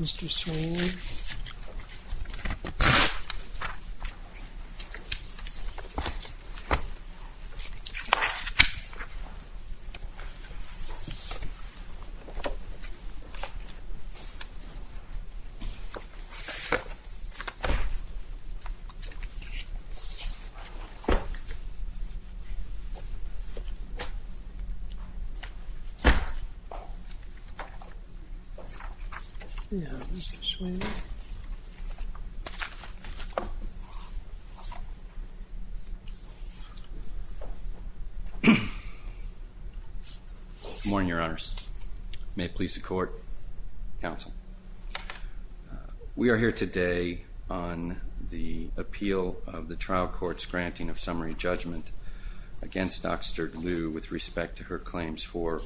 Mr. Swain Good morning, your honors. May it please the court, counsel. We are here today on the appeal of the trial court's granting of summary judgment against Dr. Liu with respect to her claims for,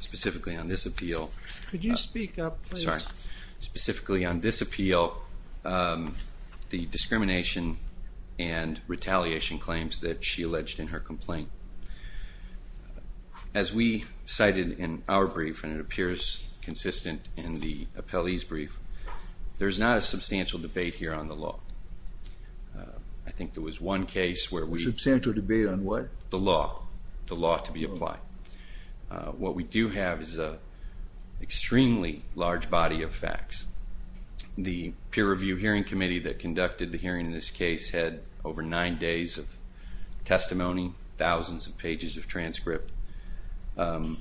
specifically on this appeal. Could you speak up, please? Sorry. Specifically on this appeal, the discrimination and retaliation claims that she alleged in her complaint. As we cited in our brief, and it appears consistent in the appellee's brief, there's not a substantial debate here on the law. I think there was one case where we... Substantial debate on what? The law, the law to be applied. What we do have is an extremely large body of facts. The peer review hearing committee that conducted the hearing in this case had over nine days of testimony, thousands of pages of transcript. But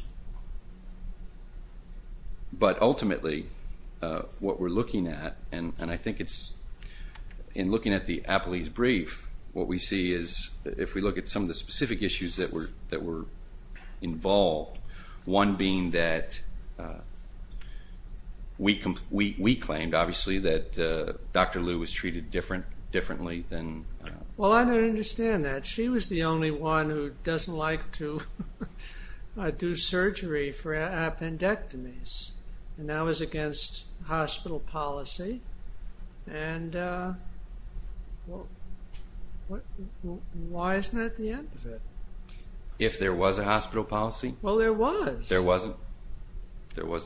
ultimately, what we're looking at, and I think it's, in looking at the appellee's brief, what we see is, if we look at some of the specific issues that were involved, one being that we claimed, obviously, that Dr. Liu was treated differently than... Well, I don't understand that. She was the only one who doesn't like to do surgery for appendectomies, and that was against hospital policy. And why isn't that the end of it? If there was a hospital policy? Well, there was. There was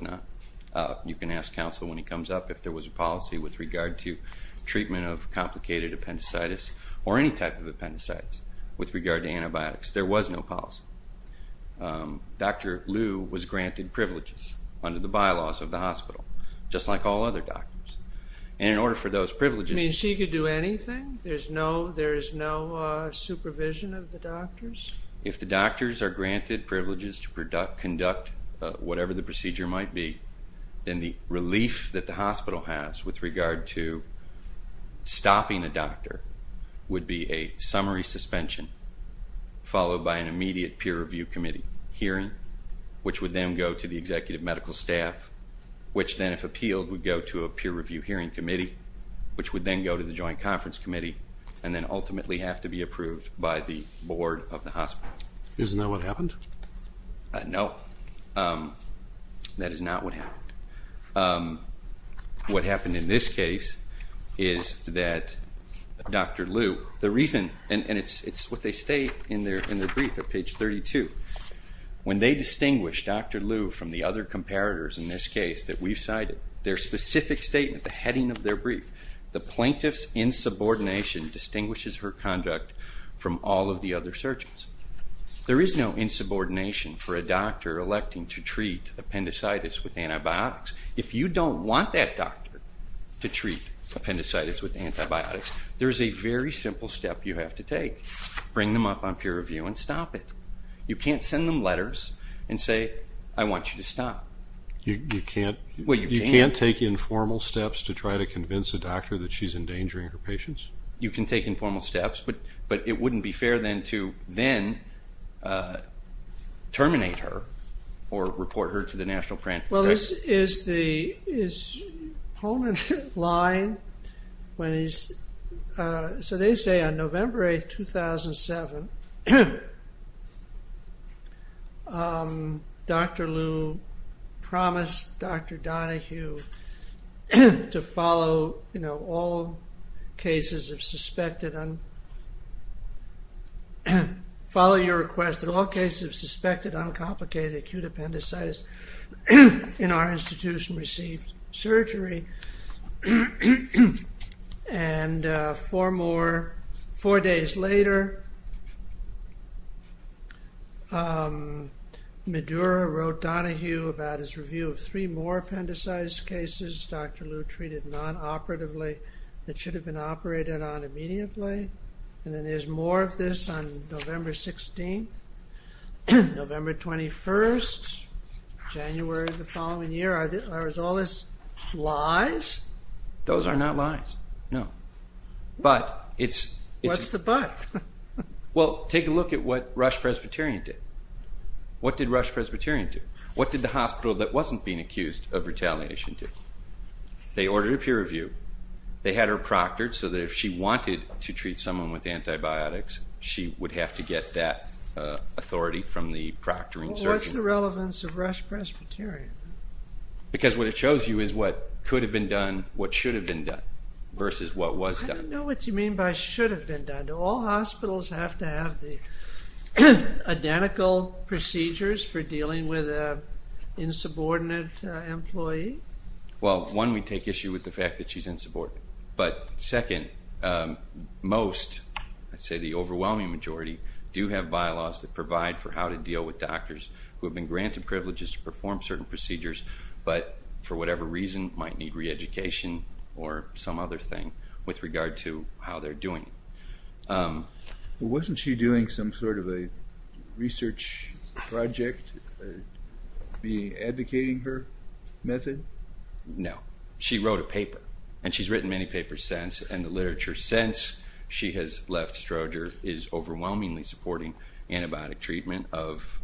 not. You can ask counsel when he comes up if there was a policy with regard to treatment of complicated appendicitis, or any type of appendicitis, with regard to antibiotics. There was no policy. Dr. Liu was granted privileges under the bylaws of the hospital, just like all other doctors. And in order for those privileges... You mean she could do anything? There's no supervision of the doctors? If the doctors are granted privileges to conduct whatever the procedure might be, then the relief that the hospital has with regard to stopping a doctor would be a summary suspension, followed by an immediate peer review committee hearing, which would then go to the executive medical staff, which then, if appealed, would go to a peer review hearing committee, which would then go to the joint conference committee, and then ultimately have to be approved by the board of the hospital. Isn't that what happened? No. That is not what happened. What happened in this case is that Dr. Liu... And it's what they state in their brief at page 32. When they distinguish Dr. Liu from the other comparators in this case that we've cited, their specific statement, the heading of their brief, the plaintiff's insubordination distinguishes her conduct from all of the other surgeons. There is no insubordination for a doctor electing to treat appendicitis with antibiotics. If you don't want that doctor to treat appendicitis with antibiotics, there's a very simple step you have to take. Bring them up on peer review and stop it. You can't send them letters and say, I want you to stop. You can't take informal steps to try to convince a doctor that she's endangering her patients? You can take informal steps, but it wouldn't be fair then to then terminate her or report her to the national... Well, is Poland lying when he's... So they say on November 8, 2007, Dr. Liu promised Dr. Donohue to follow all cases of suspected... in our institution received surgery. And four days later, Madura wrote Donohue about his review of three more appendicitis cases Dr. Liu treated non-operatively that should have been operated on immediately. And then there's more of this on November 16, November 21, January the following year. Are all this lies? Those are not lies, no. But it's... What's the but? Well, take a look at what Rush Presbyterian did. What did Rush Presbyterian do? What did the hospital that wasn't being accused of retaliation do? They ordered a peer review. They had her proctored so that if she wanted to treat someone with antibiotics, she would have to get that authority from the proctoring surgeon. What's the relevance of Rush Presbyterian? Because what it shows you is what could have been done, what should have been done, versus what was done. I don't know what you mean by should have been done. Do all hospitals have to have the identical procedures for dealing with an insubordinate employee? Well, one, we take issue with the fact that she's insubordinate. But second, most, I'd say the overwhelming majority, do have bylaws that provide for how to deal with doctors who have been granted privileges to perform certain procedures, but for whatever reason might need reeducation or some other thing with regard to how they're doing it. Wasn't she doing some sort of a research project, advocating her method? No. She wrote a paper, and she's written many papers since, and the literature since she has left Stroger is overwhelmingly supporting antibiotic treatment of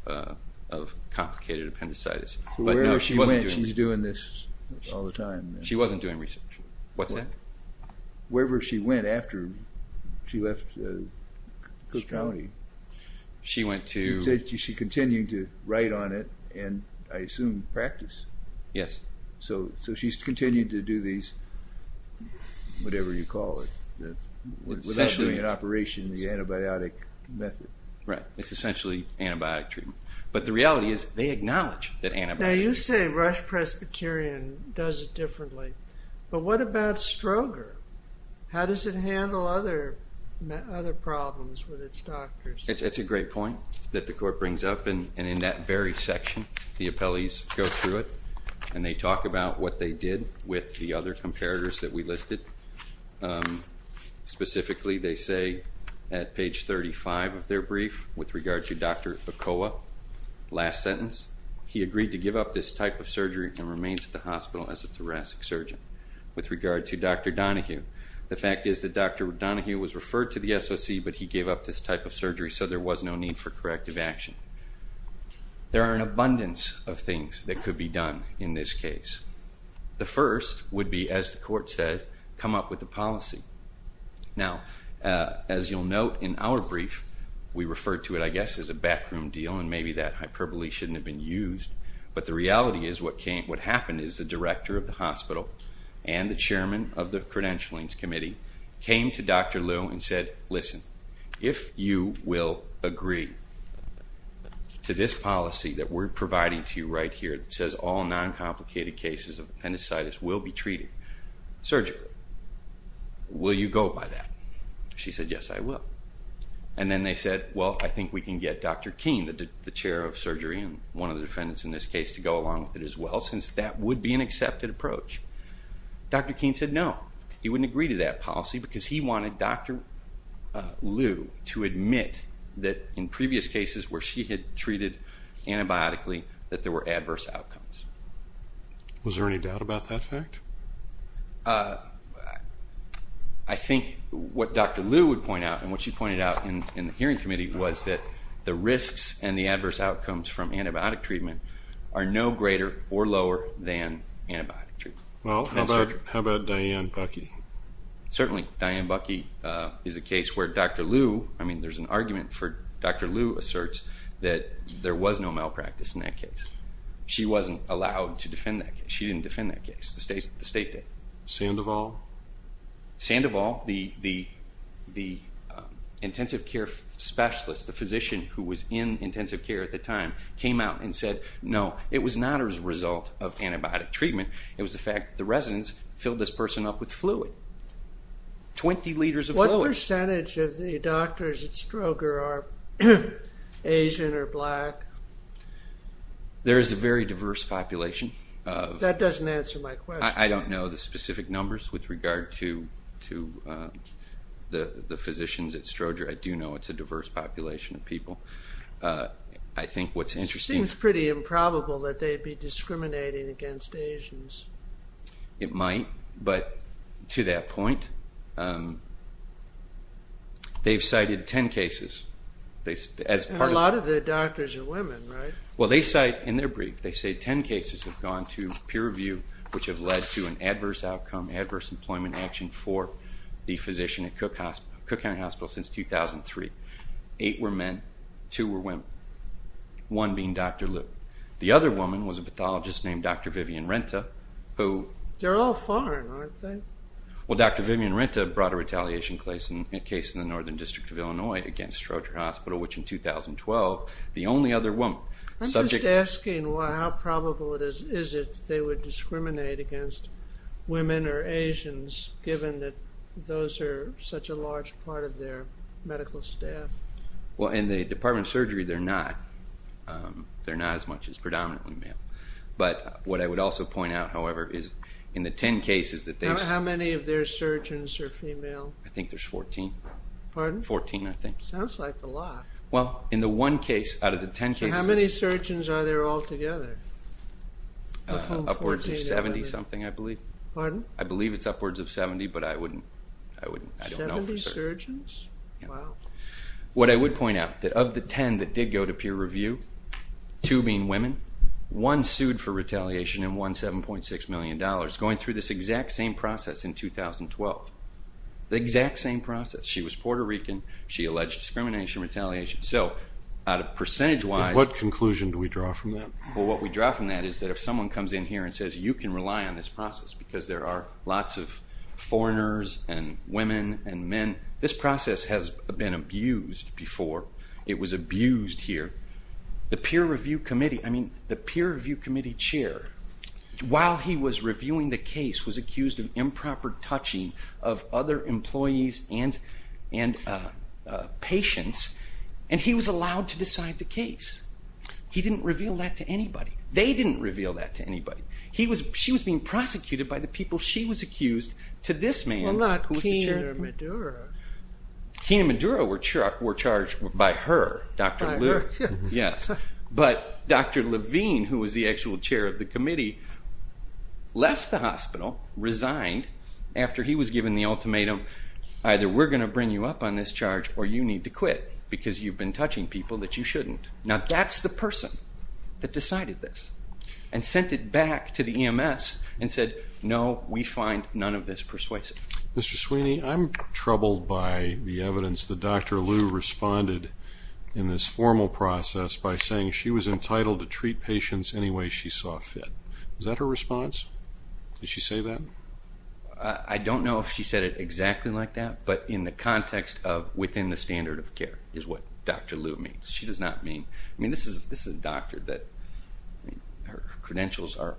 complicated appendicitis. Wherever she went, she's doing this all the time. She wasn't doing research. What's that? Wherever she went after she left Cook County, she continued to write on it and, I assume, practice. Yes. So she's continued to do these, whatever you call it, without doing an operation in the antibiotic method. Right. It's essentially antibiotic treatment. But the reality is, they acknowledge that antibiotics... Now, you say Rush Presbyterian does it differently, but what about Stroger? How does it handle other problems with its doctors? It's a great point that the Court brings up, and in that very section, the appellees go through it, and they talk about what they did with the other comparators that we listed. Specifically, they say at page 35 of their brief, with regard to Dr. Okoa, last sentence, he agreed to give up this type of surgery and remains at the hospital as a thoracic surgeon. With regard to Dr. Donahue, the fact is that Dr. Donahue was referred to the SOC, but he gave up this type of surgery, so there was no need for corrective action. There are an abundance of things that could be done in this case. The first would be, as the Court says, come up with a policy. Now, as you'll note in our brief, we refer to it, I guess, as a bathroom deal, and maybe that hyperbole shouldn't have been used, but the reality is what happened is the director of the hospital and the chairman of the credentialing committee came to Dr. Liu and said, listen, if you will agree to this policy that we're providing to you right here that says all noncomplicated cases of appendicitis will be treated surgically, will you go by that? She said, yes, I will. And then they said, well, I think we can get Dr. King, the chair of surgery and one of the defendants in this case, to go along with it as well, since that would be an accepted approach. Dr. King said no, he wouldn't agree to that policy because he wanted Dr. Liu to admit that in previous cases where she had treated antibiotically that there were adverse outcomes. Was there any doubt about that fact? I think what Dr. Liu would point out and what she pointed out in the hearing committee was that the risks and the adverse outcomes from antibiotic treatment are no greater or lower than antibiotic treatment. Well, how about Diane Buckey? Certainly, Diane Buckey is a case where Dr. Liu, I mean, there's an argument for Dr. Liu asserts that there was no malpractice in that case. She wasn't allowed to defend that case. She didn't defend that case. The state did. Sandoval? Sandoval, the intensive care specialist, the physician who was in intensive care at the time, came out and said, no, it was not as a result of antibiotic treatment. It was the fact that the residents filled this person up with fluid, 20 liters of fluid. What percentage of the doctors at Stroger are Asian or black? There is a very diverse population. That doesn't answer my question. I don't know the specific numbers with regard to the physicians at Stroger. I do know it's a diverse population of people. It seems pretty improbable that they'd be discriminating against Asians. It might, but to that point, they've cited 10 cases. A lot of the doctors are women, right? Well, they cite in their brief, they say 10 cases have gone to peer review, which have led to an adverse outcome, adverse employment action for the physician at Cook County Hospital since 2003. Eight were men. Two were women, one being Dr. Liu. The other woman was a pathologist named Dr. Vivian Renta. They're all foreign, aren't they? Well, Dr. Vivian Renta brought a retaliation case in the Northern District of Illinois against Stroger Hospital, which in 2012, the only other woman. I'm just asking how probable it is that they would discriminate against women or Asians given that those are such a large part of their medical staff. Well, in the Department of Surgery, they're not. They're not as much as predominantly male. But what I would also point out, however, is in the 10 cases that they cite... How many of their surgeons are female? I think there's 14. Pardon? 14, I think. Sounds like a lot. Well, in the one case out of the 10 cases... How many surgeons are there altogether? Upwards of 70-something, I believe. Pardon? I believe it's upwards of 70, but I don't know for certain. 70 surgeons? Yeah. Wow. What I would point out, that of the 10 that did go to peer review, two being women, one sued for retaliation and won $7.6 million going through this exact same process in 2012. The exact same process. She was Puerto Rican. She alleged discrimination, retaliation. So percentage-wise... What conclusion do we draw from that? Well, what we draw from that is that if someone comes in here and says, you can rely on this process because there are lots of foreigners and women and men, this process has been abused before. It was abused here. The peer review committee chair, while he was reviewing the case, was accused of improper touching of other employees and patients, and he was allowed to decide the case. He didn't reveal that to anybody. They didn't reveal that to anybody. She was being prosecuted by the people she was accused to this man... Well, not Kina Maduro. Kina Maduro were charged by her. By her. Yes. But Dr. Levine, who was the actual chair of the committee, left the hospital, resigned, after he was given the ultimatum, either we're going to bring you up on this charge or you need to quit because you've been touching people that you shouldn't. Now that's the person that decided this and sent it back to the EMS and said, no, we find none of this persuasive. Mr. Sweeney, I'm troubled by the evidence that Dr. Liu responded in this formal process by saying she was entitled to treat patients any way she saw fit. Is that her response? Did she say that? I don't know if she said it exactly like that, but in the context of within the standard of care is what Dr. Liu means. She does not mean... I mean, this is a doctor that her credentials are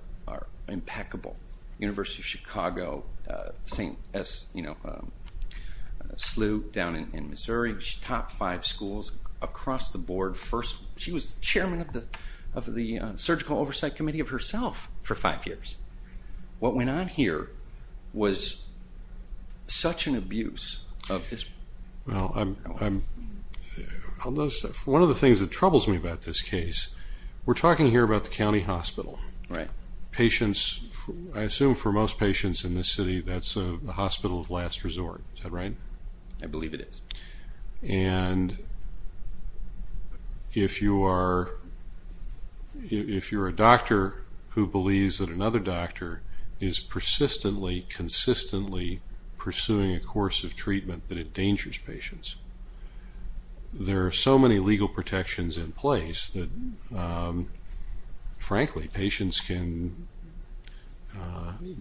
impeccable. University of Chicago, St. Lou down in Missouri. She taught five schools across the board. She was chairman of the Surgical Oversight Committee of herself for five years. What went on here was such an abuse of this. Well, one of the things that troubles me about this case, we're talking here about the county hospital. I assume for most patients in this city that's a hospital of last resort. Is that right? I believe it is. And if you're a doctor who believes that another doctor is persistently, consistently pursuing a course of treatment that endangers patients, there are so many legal protections in place that, frankly, patients can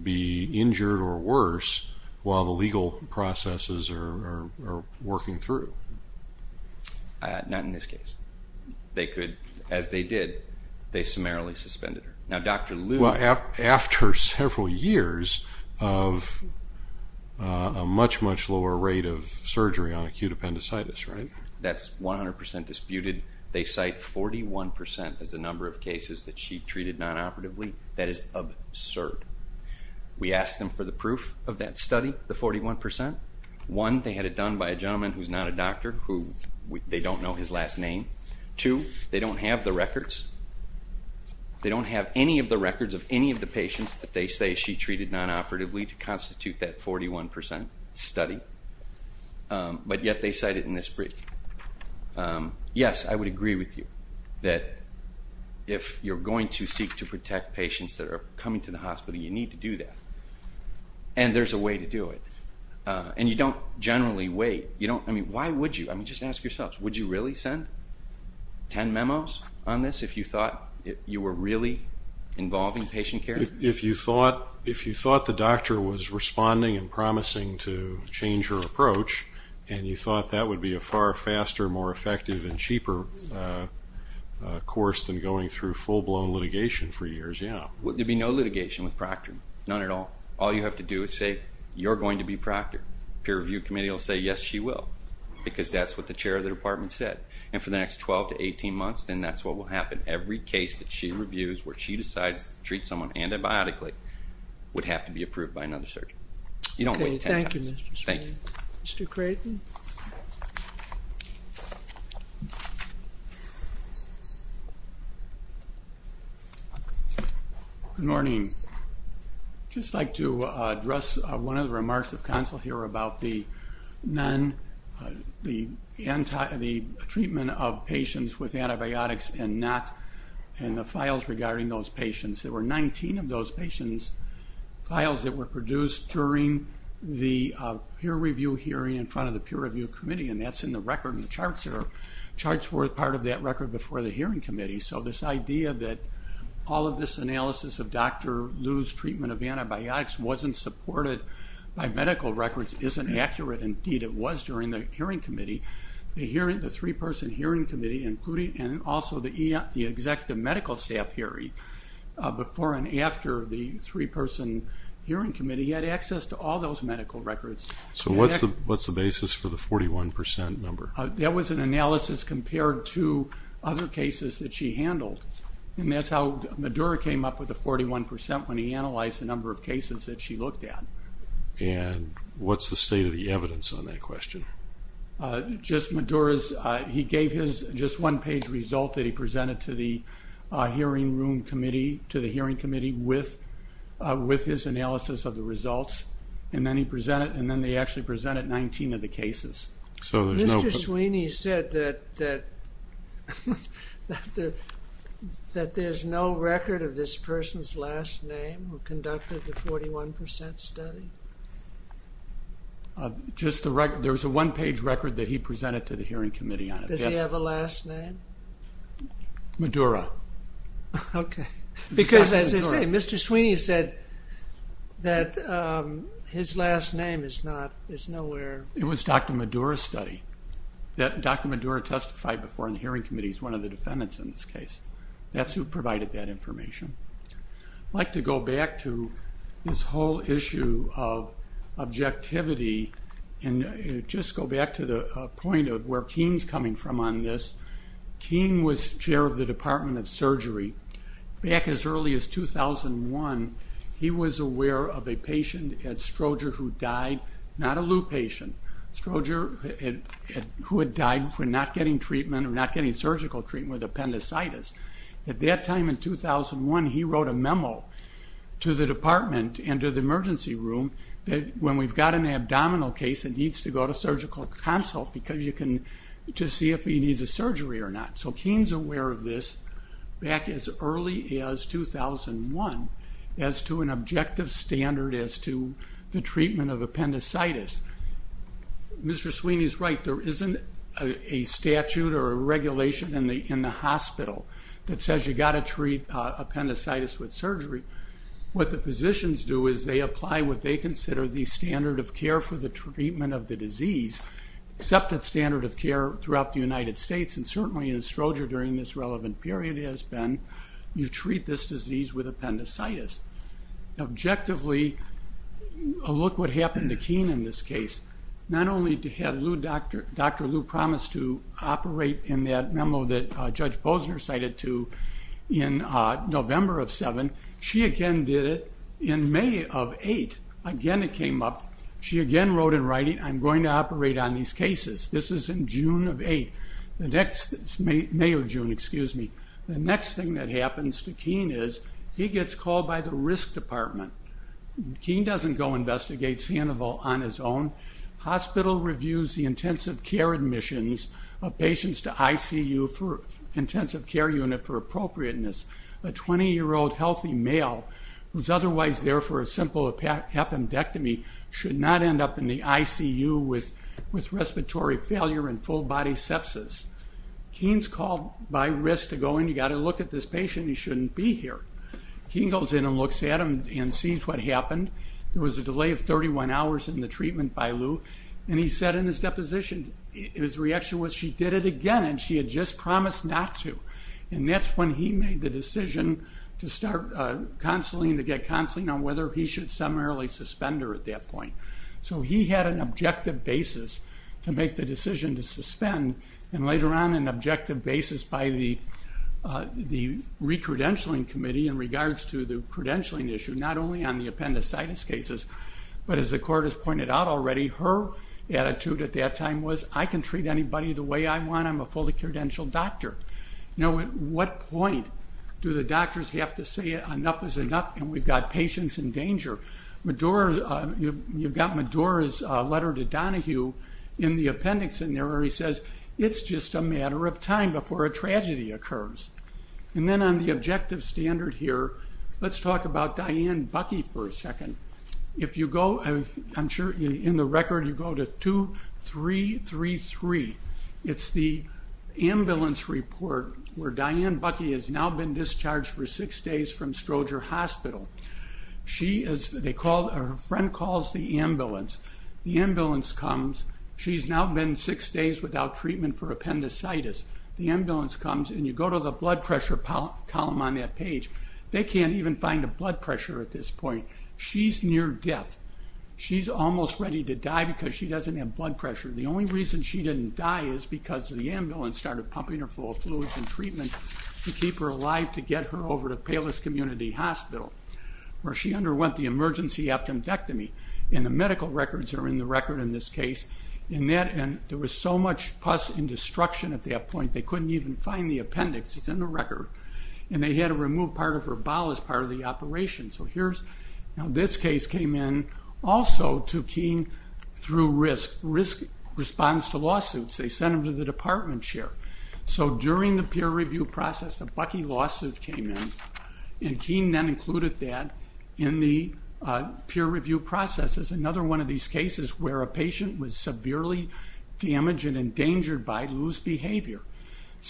be injured or worse while the legal processes are working through. Not in this case. They could, as they did, they summarily suspended her. Now, Dr. Liu... Well, after several years of a much, much lower rate of surgery on acute appendicitis, right? That's 100% disputed. They cite 41% as the number of cases that she treated nonoperatively. That is absurd. We asked them for the proof of that study, the 41%. One, they had it done by a gentleman who's not a doctor, who they don't know his last name. Two, they don't have the records. They don't have any of the records of any of the patients that they say she treated nonoperatively to constitute that 41% study. But yet they cite it in this brief. Yes, I would agree with you that if you're going to seek to protect patients that are coming to the hospital, you need to do that. And there's a way to do it. And you don't generally wait. I mean, why would you? I mean, just ask yourselves. Would you really send 10 memos on this if you thought you were really involving patient care? If you thought the doctor was responding and promising to change her approach and you thought that would be a far faster, more effective, and cheaper course than going through full-blown litigation for years? Yeah. There'd be no litigation with Procter. None at all. All you have to do is say, you're going to be Procter. Peer review committee will say, yes, she will, because that's what the chair of the department said. And for the next 12 to 18 months, then that's what will happen. Every case that she reviews where she decides to treat someone antibiotically would have to be approved by another surgeon. You don't wait 10 times. Okay, thank you, Mr. Sprague. Thank you. Mr. Creighton. Good morning. I'd just like to address one of the remarks of counsel here about the treatment of patients with antibiotics and not, and the files regarding those patients. There were 19 of those patients' files that were produced during the peer review hearing in front of the peer review committee, and that's in the record in the charts there. Charts were part of that record before the hearing committee. So this idea that all of this analysis of Dr. Liu's treatment of antibiotics wasn't supported by medical records isn't accurate. Indeed, it was during the hearing committee. The three-person hearing committee, including, and also the executive medical staff hearing before and after the three-person hearing committee, had access to all those medical records. So what's the basis for the 41% number? That was an analysis compared to other cases that she handled, and that's how Madura came up with the 41% when he analyzed the number of cases that she looked at. And what's the state of the evidence on that question? Just Madura's, he gave his just one-page result that he presented to the hearing room committee, to the hearing committee, with his analysis of the results, and then he presented, and then they actually presented 19 of the cases. Mr. Sweeney said that there's no record of this person's last name who conducted the 41% study? Just the record. There's a one-page record that he presented to the hearing committee on it. Does he have a last name? Madura. Okay. Because, as I say, Mr. Sweeney said that his last name is nowhere. It was Dr. Madura's study. Dr. Madura testified before in the hearing committee. That's who provided that information. I'd like to go back to this whole issue of objectivity and just go back to the point of where Keane's coming from on this. Keane was chair of the Department of Surgery. Back as early as 2001, he was aware of a patient at Stroger who died, not a Lou patient, Stroger, who had died for not getting treatment or not getting surgical treatment with appendicitis. At that time in 2001, he wrote a memo to the department and to the emergency room that when we've got an abdominal case, it needs to go to surgical consult to see if he needs a surgery or not. So Keane's aware of this back as early as 2001 as to an objective standard as to the treatment of appendicitis. Mr. Sweeney's right. There isn't a statute or a regulation in the hospital that says you've got to treat appendicitis with surgery. What the physicians do is they apply what they consider the standard of care for the treatment of the disease, accepted standard of care throughout the United States, and certainly in Stroger during this relevant period has been you treat this disease with appendicitis. Objectively, look what happened to Keane in this case. Not only did he have Dr. Lou promise to operate in that memo that Judge Bosner cited to in November of 2007, she again did it in May of 2008. Again, it came up. She again wrote in writing, I'm going to operate on these cases. This is in June of 2008, May or June, excuse me. The next thing that happens to Keane is he gets called by the risk department. Keane doesn't go investigate Sandoval on his own. Hospital reviews the intensive care admissions of patients to ICU for intensive care unit for appropriateness. A 20-year-old healthy male who's otherwise there for a simple appendectomy should not end up in the ICU with respiratory failure and full-body sepsis. Keane's called by risk to go in. You've got to look at this patient. He shouldn't be here. Keane goes in and looks at him and sees what happened. There was a delay of 31 hours in the treatment by Lou, and he said in his deposition his reaction was she did it again, and she had just promised not to. That's when he made the decision to start counseling, to get counseling on whether he should summarily suspend her at that point. He had an objective basis to make the decision to suspend, and later on an objective basis by the recredentialing committee in regards to the credentialing issue, not only on the appendicitis cases, but as the court has pointed out already, her attitude at that time was, I can treat anybody the way I want. I'm a fully credentialed doctor. Now at what point do the doctors have to say enough is enough and we've got patients in danger? You've got Medora's letter to Donahue in the appendix, and there where he says it's just a matter of time before a tragedy occurs. Then on the objective standard here, let's talk about Diane Buckey for a second. I'm sure in the record you go to 2333. It's the ambulance report where Diane Buckey has now been discharged for six days from Stroger Hospital. Her friend calls the ambulance. The ambulance comes. She's now been six days without treatment for appendicitis. The ambulance comes, and you go to the blood pressure column on that page. They can't even find a blood pressure at this point. She's near death. She's almost ready to die because she doesn't have blood pressure. The only reason she didn't die is because the ambulance started pumping her full of fluids and treatment to keep her alive to get her over to Palos Community Hospital where she underwent the emergency appendectomy. The medical records are in the record in this case. There was so much pus and destruction at that point, they couldn't even find the appendix. It's in the record. They had to remove part of her bowel as part of the operation. This case came in also to Keene through risk, risk response to lawsuits. They sent them to the department chair. During the peer review process, a Buckey lawsuit came in, and Keene then included that in the peer review process as another one of these cases where a patient was severely damaged and endangered by loose behavior.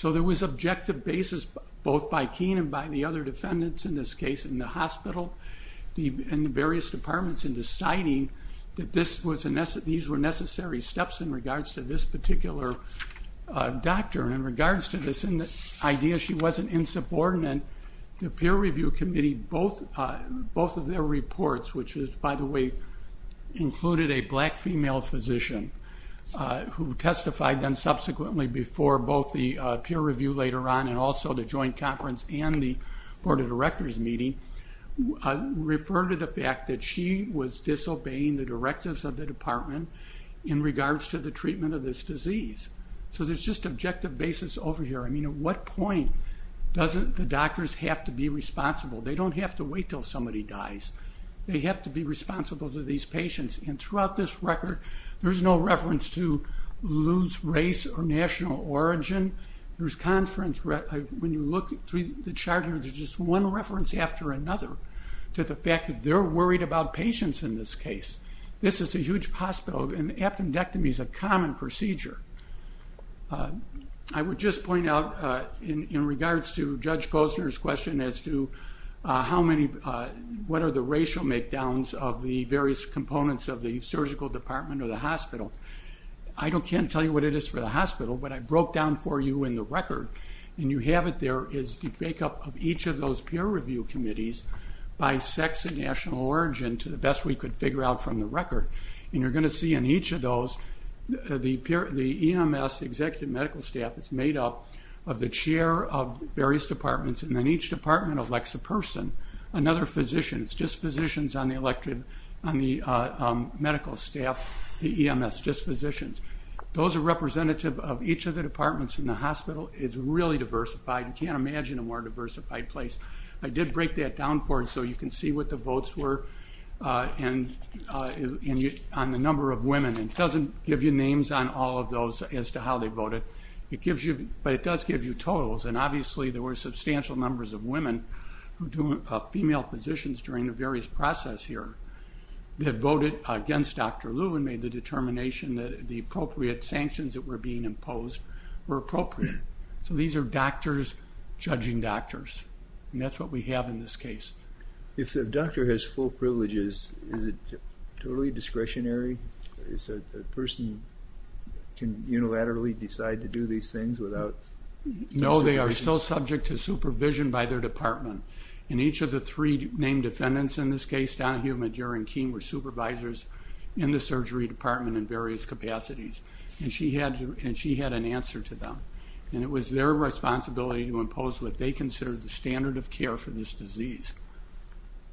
There was objective basis both by Keene and by the other defendants in this case in the hospital and the various departments in deciding that these were necessary steps in regards to this particular doctor. In regards to this idea she wasn't insubordinate, the peer review committee, both of their reports, which by the way included a black female physician who testified then subsequently before both the peer review later on and also the joint conference and the board of directors meeting, referred to the fact that she was disobeying the directives of the department in regards to the treatment of this disease. So there's just objective basis over here. I mean, at what point doesn't the doctors have to be responsible? They don't have to wait until somebody dies. They have to be responsible to these patients, and throughout this record there's no reference to loose race or national origin. There's conference, when you look through the chart here, there's just one reference after another to the fact that they're worried about patients in this case. This is a huge hospital, and appendectomy is a common procedure. I would just point out in regards to Judge Posner's question as to what are the racial make-downs of the various components of the surgical department or the hospital. I can't tell you what it is for the hospital, but I broke down for you in the record, and you have it there, is the breakup of each of those peer review committees by sex and national origin to the best we could figure out from the record. And you're going to see in each of those, the EMS, the executive medical staff, is made up of the chair of various departments, and then each department elects a person, another physician. It's just physicians on the medical staff, the EMS, just physicians. Those are representative of each of the departments in the hospital. It's really diversified. You can't imagine a more diversified place. I did break that down for you so you can see what the votes were on the number of women. It doesn't give you names on all of those as to how they voted, but it does give you totals. And obviously there were substantial numbers of women who do female positions during the various process here that voted against Dr. Lew and made the determination that the appropriate sanctions that were being imposed were appropriate. So these are doctors judging doctors, and that's what we have in this case. If the doctor has full privileges, is it totally discretionary? Is it a person can unilaterally decide to do these things without... No, they are still subject to supervision by their department. And each of the three named defendants in this case, Donahue, Madure, and Keene, were supervisors in the surgery department in various capacities, and she had an answer to them. And it was their responsibility to impose what they considered the standard of care for this disease,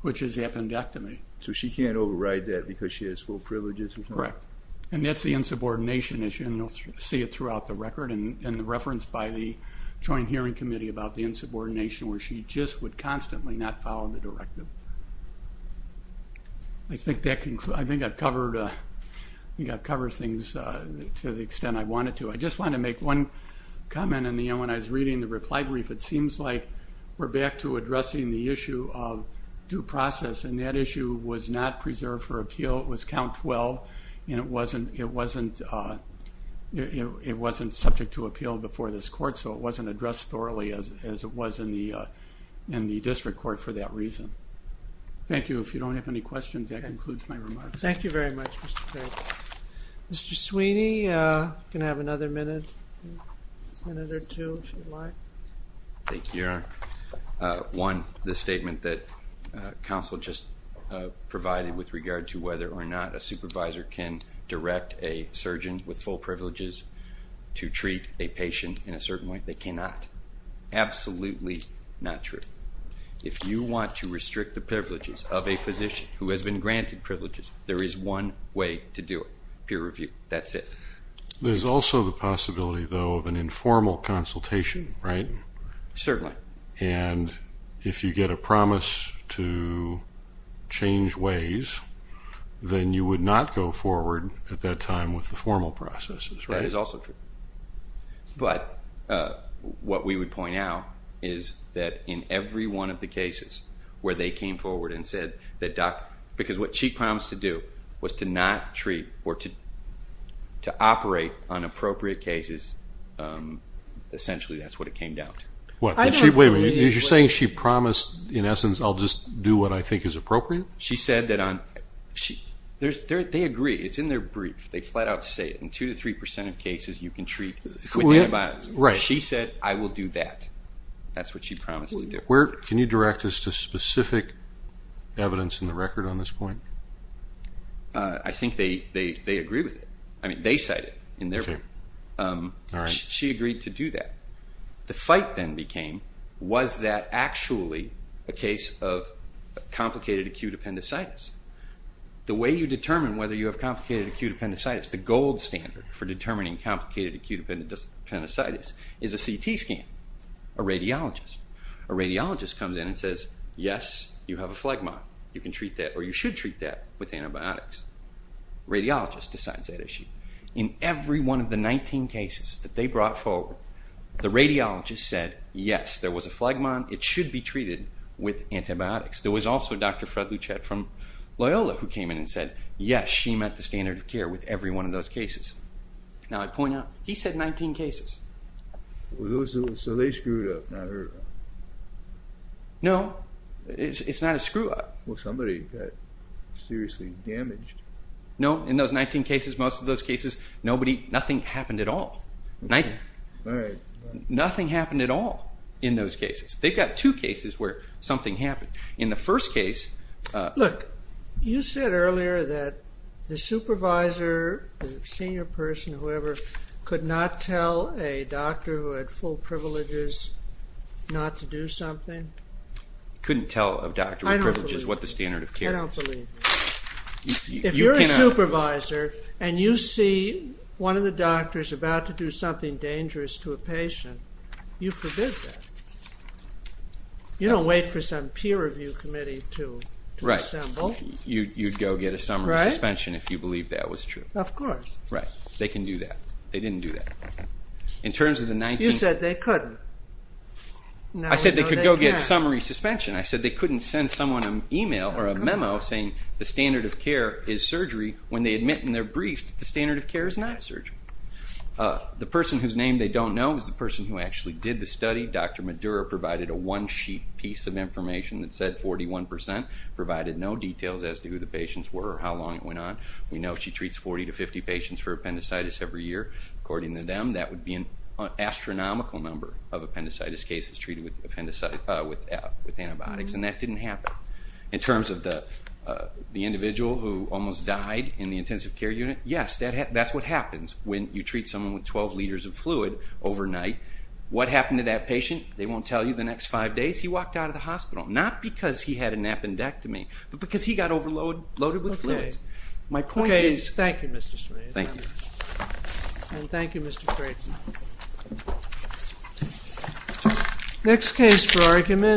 which is appendectomy. So she can't override that because she has full privileges? Correct. And that's the insubordination issue, and you'll see it throughout the record and referenced by the Joint Hearing Committee about the insubordination where she just would constantly not follow the directive. I think I've covered things to the extent I wanted to. I just want to make one comment. When I was reading the reply brief, it seems like we're back to addressing the issue of due process, and that issue was not preserved for appeal. It was count 12, and it wasn't subject to appeal before this court, so it wasn't addressed thoroughly as it was in the district court for that reason. Thank you. If you don't have any questions, that concludes my remarks. Thank you very much, Mr. Perry. Mr. Sweeney, you can have another minute or two if you'd like. Thank you, Your Honor. One, the statement that counsel just provided with regard to whether or not a supervisor can direct a surgeon with full privileges to treat a patient in a certain way, they cannot. Absolutely not true. If you want to restrict the privileges of a physician who has been granted privileges, there is one way to do it, peer review. That's it. There's also the possibility, though, of an informal consultation, right? Certainly. And if you get a promise to change ways, then you would not go forward at that time with the formal processes, right? That is also true. But what we would point out is that in every one of the cases where they came forward and said that doctor – because what she promised to do was to not treat or to operate on appropriate cases, essentially that's what it came down to. Wait a minute. You're saying she promised, in essence, I'll just do what I think is appropriate? She said that on – they agree. It's in their brief. They flat out say it. In 2% to 3% of cases you can treat with antibiotics. She said, I will do that. That's what she promised to do. Can you direct us to specific evidence in the record on this point? I think they agree with it. I mean, they cite it in their book. She agreed to do that. The fight then became, was that actually a case of complicated acute appendicitis? The way you determine whether you have complicated acute appendicitis, the gold standard for determining complicated acute appendicitis is a CT scan, a radiologist. A radiologist comes in and says, yes, you have a phlegmon. You can treat that or you should treat that with antibiotics. Radiologist decides that issue. In every one of the 19 cases that they brought forward, the radiologist said, yes, there was a phlegmon. It should be treated with antibiotics. There was also Dr. Fred Luchette from Loyola who came in and said, yes, she met the standard of care with every one of those cases. Now, I'd point out, he said 19 cases. So they screwed up, not her. No, it's not a screw up. Well, somebody got seriously damaged. No, in those 19 cases, most of those cases, nothing happened at all. Nothing happened at all in those cases. They've got two cases where something happened. In the first case... Look, you said earlier that the supervisor, the senior person, whoever, could not tell a doctor who had full privileges not to do something? Couldn't tell a doctor with privileges what the standard of care was. I don't believe you. If you're a supervisor and you see one of the doctors about to do something dangerous to a patient, you forbid that. You don't wait for some peer review committee to assemble. Right. You'd go get a summary suspension if you believe that was true. Of course. Right. They can do that. They didn't do that. You said they couldn't. I said they could go get summary suspension. I said they couldn't send someone an email or a memo saying the standard of care is surgery when they admit in their brief that the standard of care is not surgery. The person whose name they don't know is the person who actually did the study. Dr. Madura provided a one-sheet piece of information that said 41 percent, provided no details as to who the patients were or how long it went on. We know she treats 40 to 50 patients for appendicitis every year. According to them, that would be an astronomical number of appendicitis cases treated with antibiotics, and that didn't happen. In terms of the individual who almost died in the intensive care unit, yes, that's what happens when you treat someone with 12 liters of fluid overnight. What happened to that patient, they won't tell you. The next five days he walked out of the hospital, not because he had an appendectomy, but because he got overloaded with fluids. Okay. Thank you, Mr. Strain. Thank you. And thank you, Mr. Creighton. Next case for argument.